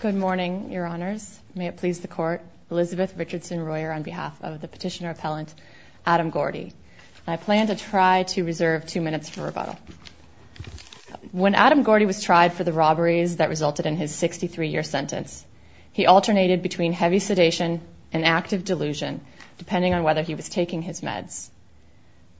Good morning, your honors. May it please the court. Elizabeth Richardson Royer on behalf of the petitioner appellant, Adam Gordy. I plan to try to reserve two minutes for rebuttal. When Adam Gordy was tried for the robberies that resulted in his 63-year sentence, he alternated between heavy sedation and active delusion, depending on whether he was taking his meds.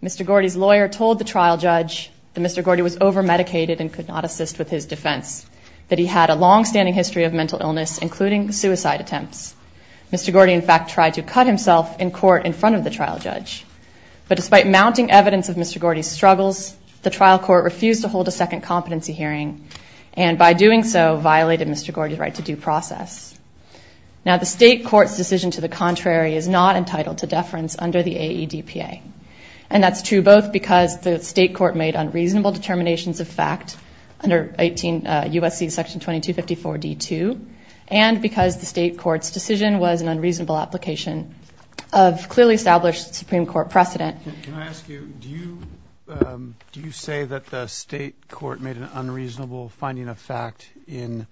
Mr. Gordy's lawyer told the trial judge that Mr. Gordy was over-medicated and could not assist with his defense, that he had a longstanding history of mental illness, including suicide attempts. Mr. Gordy, in fact, tried to cut himself in court in front of the trial judge. But despite mounting evidence of Mr. Gordy's struggles, the trial court refused to hold a second competency hearing, and by doing so violated Mr. Gordy's right to due process. Now, the state court's decision to the contrary is not entitled to deference under the AEDPA. And that's true both because the state court made unreasonable determinations of fact under USC section 2254 D2, and because the state court's decision was an unreasonable application of clearly established Supreme Court precedent. Can I ask you, do you say that the state court made an unreasonable finding of fact in,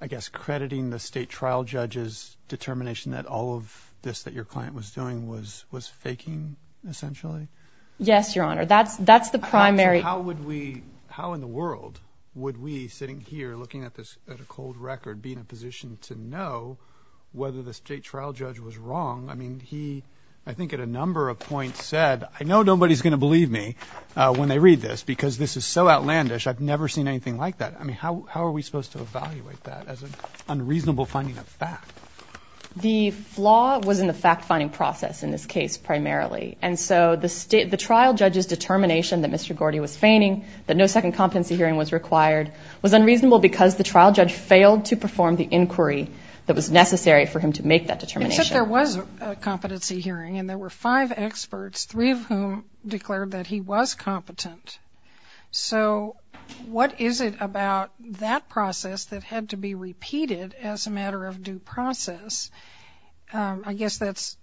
I guess, crediting the state trial judge's determination that all of this that your client was doing was faking, essentially? Yes, Your Honor, that's the primary. How would we, how in the world would we sitting here looking at this at a cold record be in a position to know whether the state trial judge was wrong? I mean, he, I think at a number of points said, I know nobody's gonna believe me when they read this because this is so outlandish, I've never seen anything like that. I mean, how are we supposed to evaluate that as an unreasonable finding of fact? The flaw was in the fact-finding process in this case, primarily. And so the trial judge's determination that Mr. Gordy was feigning, that no second competency hearing was required, was unreasonable because the trial judge failed to perform the inquiry that was necessary for him to make that determination. Except there was a competency hearing and there were five experts, three of whom declared that he was competent. So what is it about that process that had to be repeated as a matter of due process? I guess that's,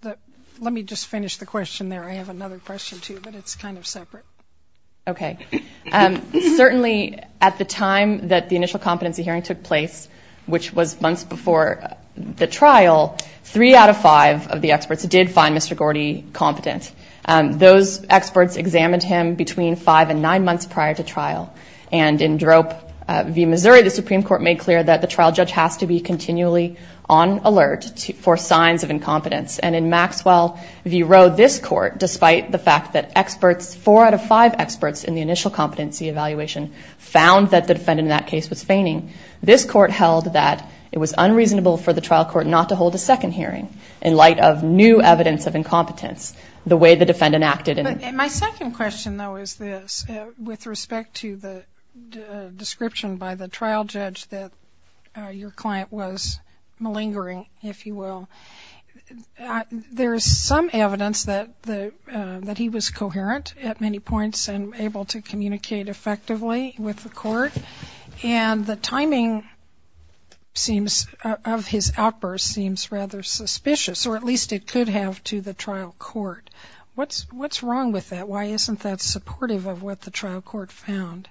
let me just finish the question there. I have another question too, but it's kind of separate. Okay, certainly at the time that the initial competency hearing took place, which was months before the trial, three out of five of the experts did find Mr. Gordy competent. Those experts examined him between five and nine months prior to trial. And in Drope v. Missouri, the Supreme Court made clear that the trial judge has to be continually on alert for signs of incompetence. And in Maxwell v. Rowe, this court, despite the fact that four out of five experts in the initial competency evaluation found that the defendant in that case was feigning, this court held that it was unreasonable for the trial court not to hold a second hearing in light of new evidence of incompetence, the way the defendant acted. My second question though is this, with respect to the description by the trial judge that your client was malingering, if you will, there's some evidence that he was coherent at many points and able to communicate effectively with the court. And the timing of his outburst seems rather suspicious, or at least it could have to the trial court. What's wrong with that? Why isn't that supportive of what the trial court found?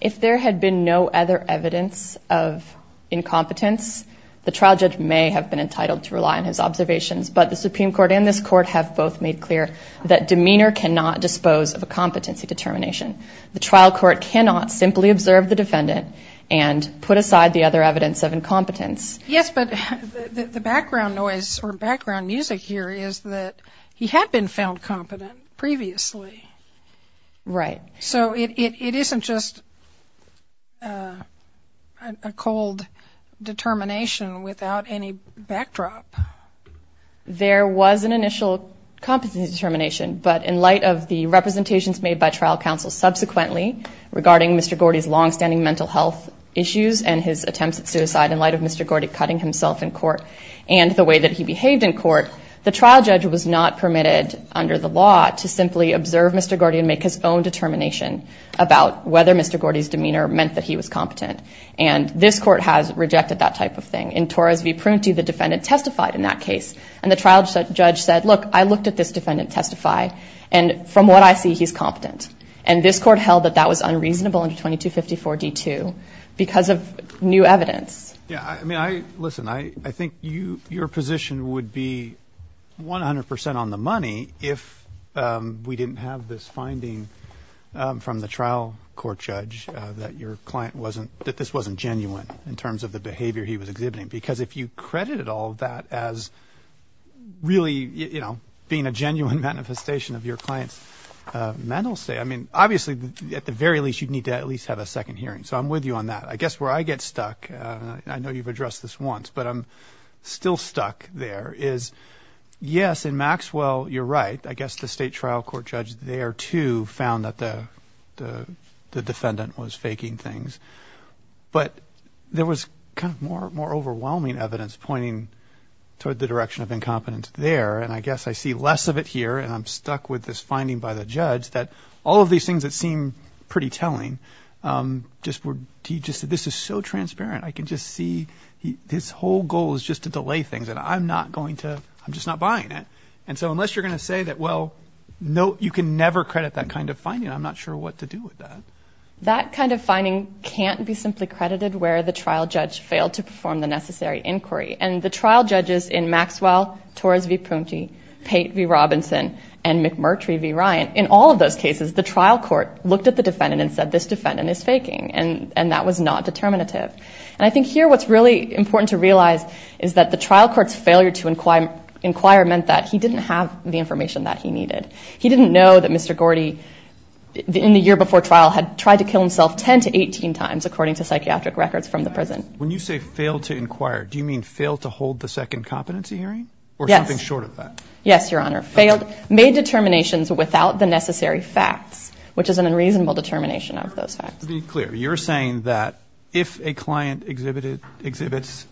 If there had been no other evidence of incompetence, the trial judge may have been entitled to rely on his observations, but the Supreme Court and this court have both made clear that demeanor cannot dispose of a competency determination. The trial court cannot simply observe the defendant and put aside the other evidence of incompetence. Yes, but the background noise or background music here is that he had been found competent previously. Right. So it isn't just a cold determination without any backdrop. There was an initial competency determination, but in light of the representations made by trial counsel subsequently, regarding Mr. Gordy's longstanding mental health issues and his attempts at suicide in light of Mr. Gordy cutting himself in court and the way that he behaved in court, the trial judge was not permitted under the law to simply observe Mr. Gordy and make his own determination about whether Mr. Gordy's demeanor meant that he was competent. And this court has rejected that type of thing. In Torres v. Prunty, the defendant testified in that case and the trial judge said, look, I looked at this defendant testify and from what I see, he's competent. And this court held that that was unreasonable under 2254 D2 because of new evidence. Yeah, I mean, listen, I think your position would be 100% on the money if we didn't have this finding from the trial court judge that your client wasn't, that this wasn't genuine in terms of the behavior he was exhibiting. Because if you credited all of that as really, being a genuine manifestation of your client's mental state, I mean, obviously at the very least, you'd need to at least have a second hearing. So I'm with you on that. I guess where I get stuck, I know you've addressed this once, but I'm still stuck there is, yes, in Maxwell, you're right. I guess the state trial court judge there too found that the defendant was faking things, but there was kind of more overwhelming evidence pointing toward the direction of incompetence there. And I guess I see less of it here and I'm stuck with this finding by the judge that all of these things that seem pretty telling, this is so transparent. I can just see his whole goal is just to delay things and I'm not going to, I'm just not buying it. And so unless you're gonna say that, no, you can never credit that kind of finding. I'm not sure what to do with that. That kind of finding can't be simply credited where the trial judge failed to perform the necessary inquiry. And the trial judges in Maxwell, Torres v. Punti, Pate v. Robinson, and McMurtry v. Ryan, in all of those cases, the trial court looked at the defendant and said, this defendant is faking. And that was not determinative. And I think here, what's really important to realize is that the trial court's failure to inquire meant that he didn't have the information that he needed. He didn't know that Mr. Gordy, in the year before trial, had tried to kill himself 10 to 18 times according to psychiatric records from the prison. When you say failed to inquire, do you mean failed to hold the second competency hearing? Yes. Or something short of that? Yes, Your Honor. Failed, made determinations without the necessary facts, which is an unreasonable determination of those facts. To be clear, you're saying that if a client exhibits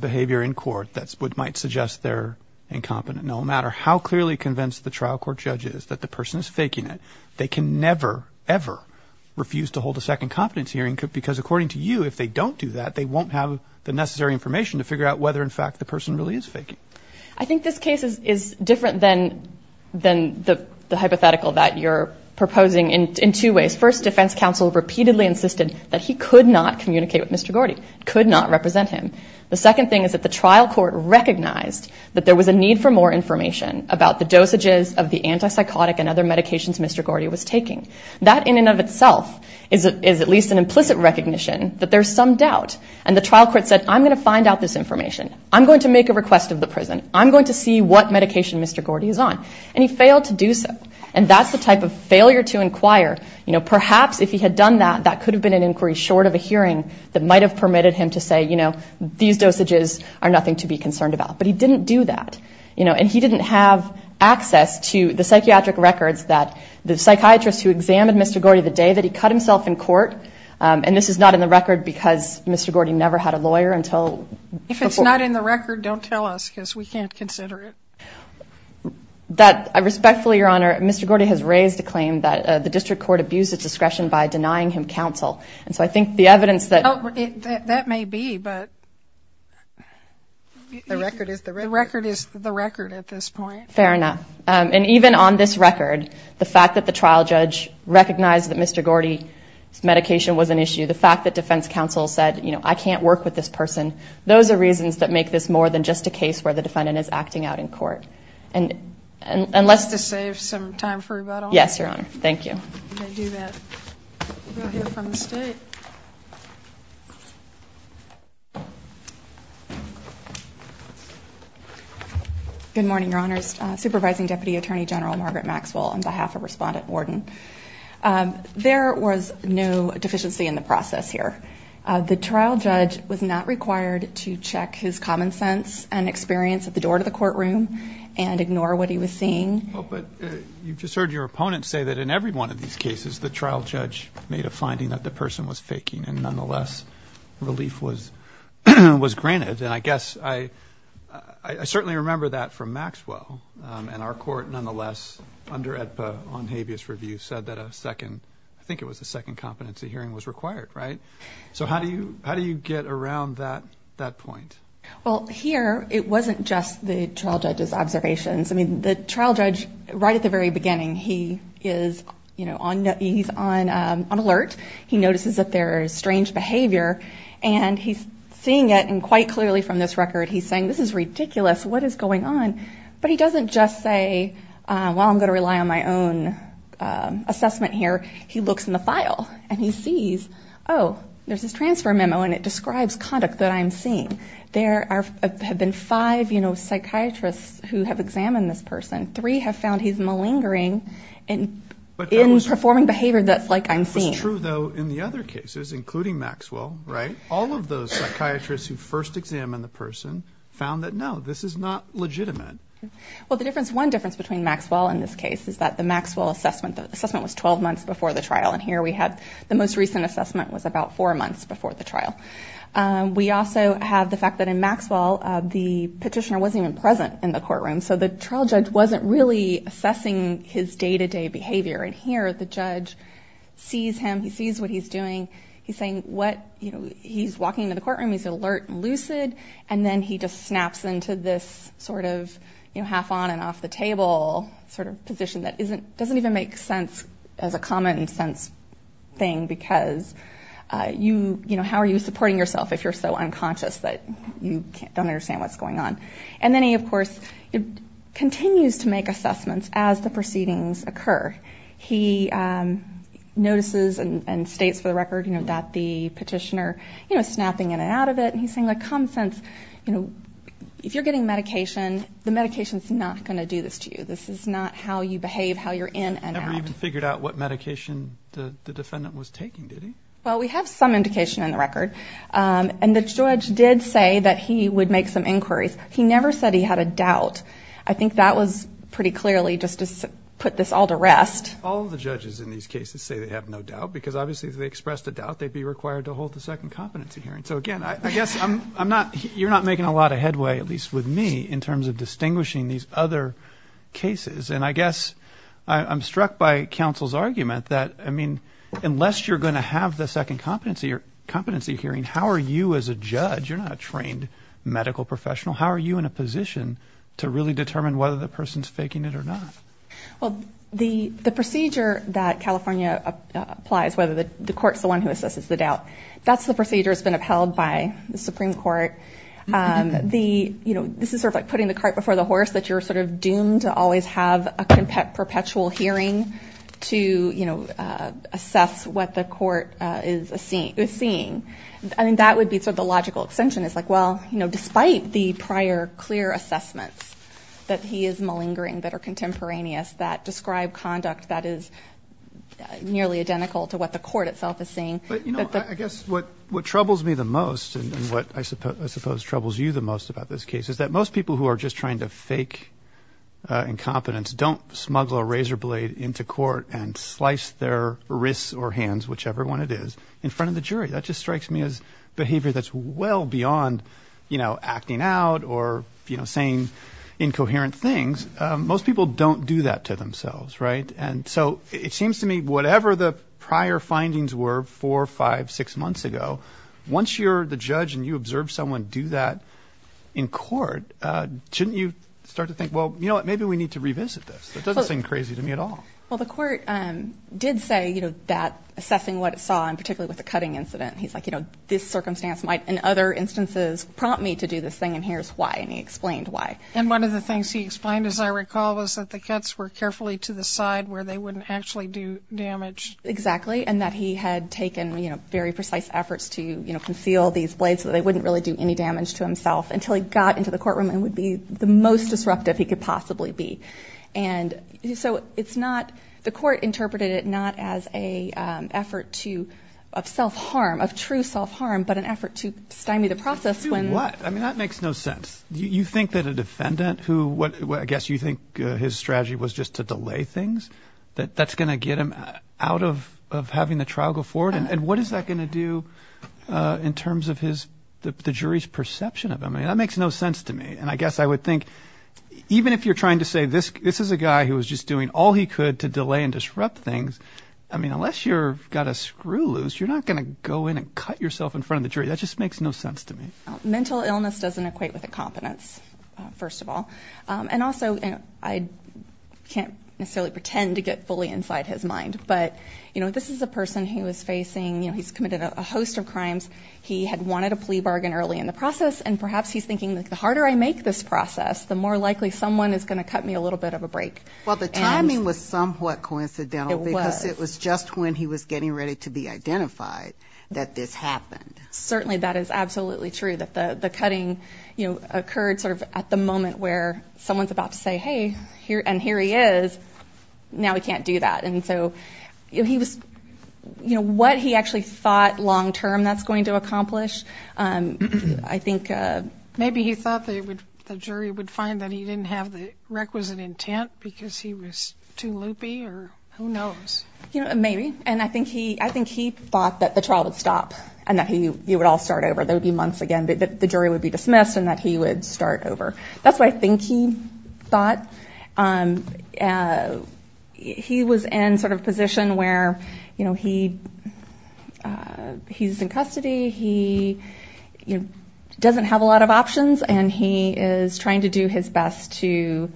behavior in court, that might suggest they're incompetent. No matter how clearly convinced the trial court judge is that the person is faking it, they can never, ever refuse to hold a second competency hearing because according to you, if they don't do that, they won't have the necessary information to figure out whether, in fact, the person really is faking. I think this case is different than the hypothetical that you're proposing in two ways. First, defense counsel repeatedly insisted that he could not communicate with Mr. Gordy, could not represent him. The second thing is that the trial court recognized that there was a need for more information about the dosages of the antipsychotic and other medications Mr. Gordy was taking. That in and of itself is at least an implicit recognition that there's some doubt. And the trial court said, I'm gonna find out this information. I'm going to make a request of the prison. I'm going to see what medication Mr. Gordy is on. And he failed to do so. And that's the type of failure to inquire. Perhaps if he had done that, that could have been an inquiry short of a hearing that might have permitted him to say, these dosages are nothing to be concerned about. But he didn't do that. And he didn't have access to the psychiatric records that the psychiatrist who examined Mr. Gordy the day that he cut himself in court, and this is not in the record because Mr. Gordy never had a lawyer until before. If it's not in the record, don't tell us because we can't consider it. That I respectfully, Your Honor, Mr. Gordy has raised a claim that the district court abused its discretion by denying him counsel. And so I think the evidence that- But the record is the record at this point. Fair enough. And even on this record, the fact that the trial judge recognized that Mr. Gordy's medication was an issue, the fact that defense counsel said, I can't work with this person. Those are reasons that make this more than just a case where the defendant is acting out in court. And let's- To save some time for rebuttal. Yes, Your Honor. Thank you. You can do that. We'll hear from the state. Thank you. Good morning, Your Honors. Supervising Deputy Attorney General Margaret Maxwell on behalf of Respondent Worden. There was no deficiency in the process here. The trial judge was not required to check his common sense and experience at the door to the courtroom and ignore what he was seeing. Oh, but you've just heard your opponent say that in every one of these cases, the trial judge made a finding that the person was faking and nonetheless, relief was granted. And I guess I certainly remember that from Maxwell and our court nonetheless, under AEDPA on habeas review said that a second, I think it was a second competency hearing was required. So how do you get around that point? Well, here, it wasn't just the trial judge's observations. I mean, the trial judge, right at the very beginning, he is on alert. He notices that there is strange behavior and he's seeing it and quite clearly from this record, he's saying, this is ridiculous. What is going on? But he doesn't just say, well, I'm gonna rely on my own assessment here. He looks in the file and he sees, oh, there's this transfer memo and it describes conduct that I'm seeing. There have been five psychiatrists who have examined this person. Three have found he's malingering in performing behavior that's like I'm seeing. True though, in the other cases, including Maxwell, all of those psychiatrists who first examined the person found that no, this is not legitimate. Well, the difference, one difference between Maxwell in this case is that the Maxwell assessment, the assessment was 12 months before the trial. And here we have the most recent assessment was about four months before the trial. We also have the fact that in Maxwell, the petitioner wasn't even present in the courtroom. So the trial judge wasn't really assessing his day-to-day behavior. And here, the judge sees him, he sees what he's doing. He's saying what, he's walking into the courtroom, he's alert and lucid, and then he just snaps into this sort of half on and off the table sort of position that doesn't even make sense as a common sense thing because you, how are you supporting yourself if you're so unconscious that you don't understand what's going on? And then he, of course, continues to make assessments as the proceedings occur. He notices and states for the record that the petitioner is snapping in and out of it. And he's saying that common sense, if you're getting medication, the medication's not gonna do this to you. This is not how you behave, how you're in and out. He never even figured out what medication the defendant was taking, did he? Well, we have some indication in the record. And the judge did say that he would make some inquiries. He never said he had a doubt. I think that was pretty clearly just to put this all to rest. All of the judges in these cases say they have no doubt because obviously if they expressed a doubt, they'd be required to hold the second competency hearing. So again, I guess I'm not, you're not making a lot of headway, at least with me, in terms of distinguishing these other cases. And I guess I'm struck by counsel's argument that I mean, unless you're gonna have the second competency hearing, how are you as a judge, you're not a trained medical professional, how are you in a position to really determine whether the person's faking it or not? Well, the procedure that California applies, whether the court's the one who assesses the doubt, that's the procedure that's been upheld by the Supreme Court. This is sort of like putting the cart before the horse, that you're sort of doomed to always have a perpetual hearing to assess what the court is seeing. I mean, that would be sort of the logical extension is like, well, despite the prior clear assessments that he is malingering, that are contemporaneous, that describe conduct that is nearly identical to what the court itself is seeing. But you know, I guess what troubles me the most, and what I suppose troubles you the most about this case, is that most people who are just trying to fake incompetence don't smuggle a razor blade into court and slice their wrists or hands, whichever one it is, in front of the jury. That just strikes me as behavior that's well beyond acting out or saying incoherent things. Most people don't do that to themselves, right? And so it seems to me, whatever the prior findings were, four, five, six months ago, once you're the judge and you observe someone do that in court, shouldn't you start to think, well, you know what? Maybe we need to revisit this. That doesn't seem crazy to me at all. Well, the court did say that assessing what it saw, and particularly with the cutting incident, he's like, you know, this circumstance might, in other instances, prompt me to do this thing, and here's why, and he explained why. And one of the things he explained, as I recall, was that the cuts were carefully to the side where they wouldn't actually do damage. Exactly, and that he had taken very precise efforts to conceal these blades so that they wouldn't really do any damage to himself until he got into the courtroom and would be the most disruptive he could possibly be. And so it's not, the court interpreted it not as a effort to, of self-harm, of true self-harm, but an effort to stymie the process when- To do what? I mean, that makes no sense. You think that a defendant who, I guess you think his strategy was just to delay things, that that's gonna get him out of having the trial go forward and what is that gonna do in terms of his, the jury's perception of him? I mean, that makes no sense to me. And I guess I would think, even if you're trying to say this is a guy who was just doing all he could to delay and disrupt things, I mean, unless you've got a screw loose, you're not gonna go in and cut yourself in front of the jury. That just makes no sense to me. Mental illness doesn't equate with a competence, first of all. And also, I can't necessarily pretend to get fully inside his mind, but this is a person who is facing, he's committed a host of crimes. He had wanted a plea bargain early in the process and perhaps he's thinking, the harder I make this process, the more likely someone is gonna cut me a little bit of a break. Well, the timing was somewhat coincidental because it was just when he was getting ready to be identified that this happened. Certainly, that is absolutely true, that the cutting occurred sort of at the moment where someone's about to say, hey, and here he is, now he can't do that. And so, what he actually thought long-term that's going to accomplish, I think... Maybe he thought the jury would find that he didn't have the requisite intent because he was too loopy or who knows? Maybe, and I think he thought that the trial would stop and that he would all start over. There would be months again, but the jury would be dismissed and that he would start over. That's what I think he thought. He was in sort of position where he's in custody, he doesn't have a lot of options, and he is trying to do his best to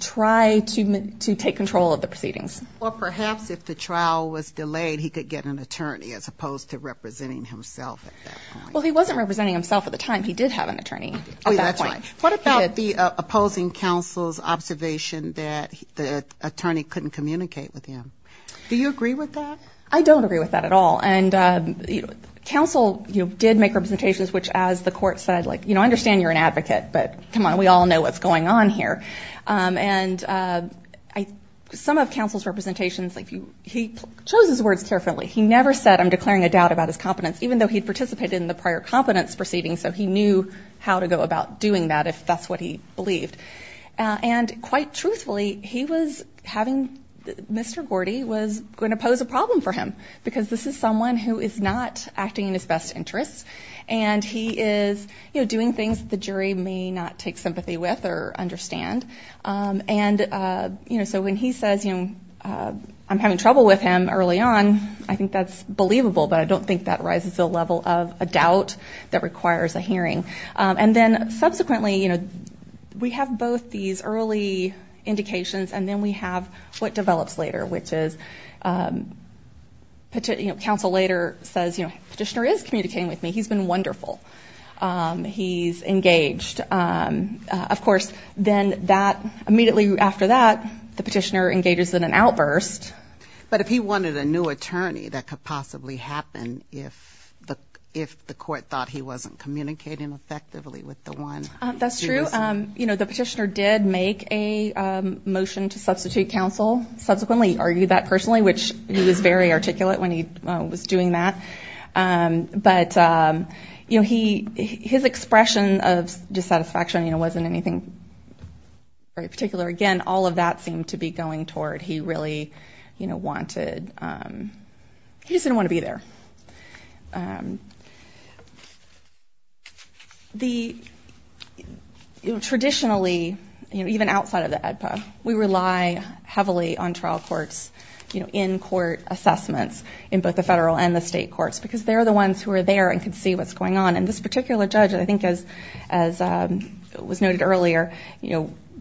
try to take control of the proceedings. Or perhaps if the trial was delayed, he could get an attorney as opposed to representing himself at that point. Well, he wasn't representing himself at the time, he did have an attorney at that point. What about the opposing counsel's observation that the attorney couldn't communicate with him? Do you agree with that? I don't agree with that at all. And counsel did make representations, which as the court said, I understand you're an advocate, but come on, we all know what's going on here. And some of counsel's representations, he chose his words carefully. He never said, I'm declaring a doubt about his competence, even though he'd participated in the prior competence proceedings. So he knew how to go about doing that if that's what he believed. And quite truthfully, he was having, Mr. Gordy was going to pose a problem for him because this is someone who is not acting in his best interests. And he is doing things that the jury may not take sympathy with or understand. And so when he says, I'm having trouble with him early on, I think that's believable, but I don't think that rises to a level of a doubt that requires a hearing. And then subsequently, we have both these early indications and then we have what develops later, which is counsel later says, petitioner is communicating with me. He's been wonderful. He's engaged. Of course, then that immediately after that, the petitioner engages in an outburst. But if he wanted a new attorney, that could possibly happen if the court thought he wasn't communicating effectively with the one. That's true. The petitioner did make a motion to substitute counsel. Subsequently, argued that personally, which he was very articulate when he was doing that. But his expression of dissatisfaction wasn't anything very particular. Again, all of that seemed to be going toward he really wanted, he just didn't want to be there. Traditionally, even outside of the AEDPA, we rely heavily on trial courts in court assessments in both the federal and the state courts because they're the ones who are there and can see what's going on. And this particular judge, I think as was noted earlier,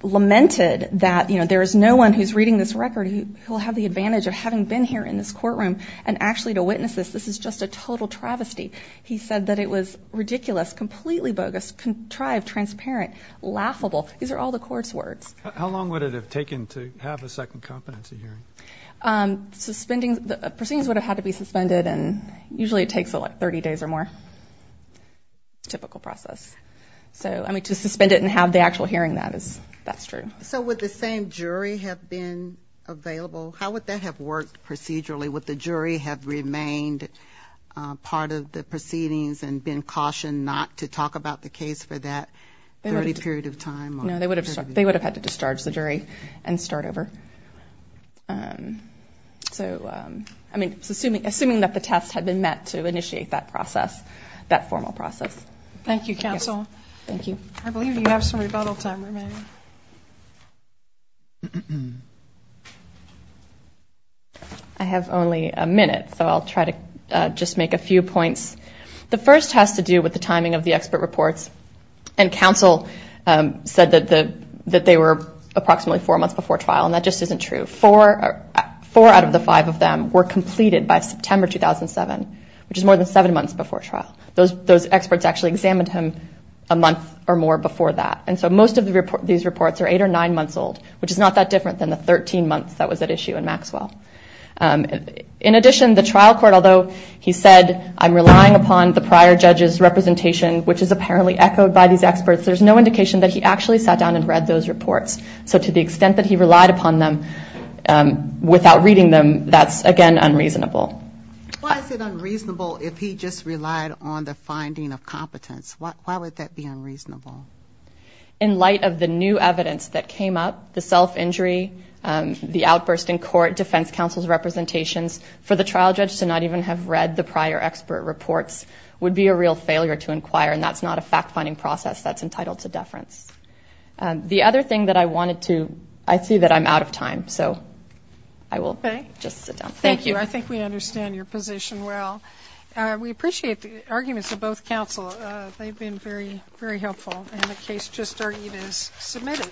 lamented that there is no one who's reading this record who will have the advantage of having been here in this courtroom and actually to witness this, this is just a total travesty. He said that it was ridiculous, completely bogus, contrived, transparent, laughable. These are all the court's words. How long would it have taken to have a second competency hearing? Suspending, the proceedings would have had to be suspended and usually it takes like 30 days or more, typical process. So, I mean, to suspend it and have the actual hearing that, that's true. So would the same jury have been available? How would that have worked procedurally? Would the jury have remained part of the proceedings and been cautioned not to talk about the case for that 30 period of time? No, they would have had to discharge the jury and start over. So, I mean, assuming that the tests had been met to initiate that process, that formal process. Thank you, counsel. Thank you. I believe you have some rebuttal time remaining. I have only a minute, so I'll try to just make a few points. The first has to do with the timing of the expert reports and counsel said that they were approximately four months before trial and that just isn't true. Four out of the five of them were completed by September, 2007, which is more than seven months before trial. Those experts actually examined him a month or more before that. And so most of these reports are eight or nine months old, which is not that different than the 13 months that was at issue in Maxwell. In addition, the trial court, although he said, I'm relying upon the prior judge's representation, which is apparently echoed by these experts, there's no indication that he actually sat down and read those reports. So to the extent that he relied upon them without reading them, that's again, unreasonable. Why is it unreasonable if he just relied on the finding of competence? Why would that be unreasonable? In light of the new evidence that came up, the self-injury, the outburst in court, defense counsel's representations for the trial judge to not even have read the prior expert reports would be a real failure to inquire, and that's not a fact-finding process that's entitled to deference. The other thing that I wanted to, I see that I'm out of time, so I will just sit down. Thank you. I think we understand your position well. We appreciate the arguments of both counsel. They've been very, very helpful. And the case just started is submitted.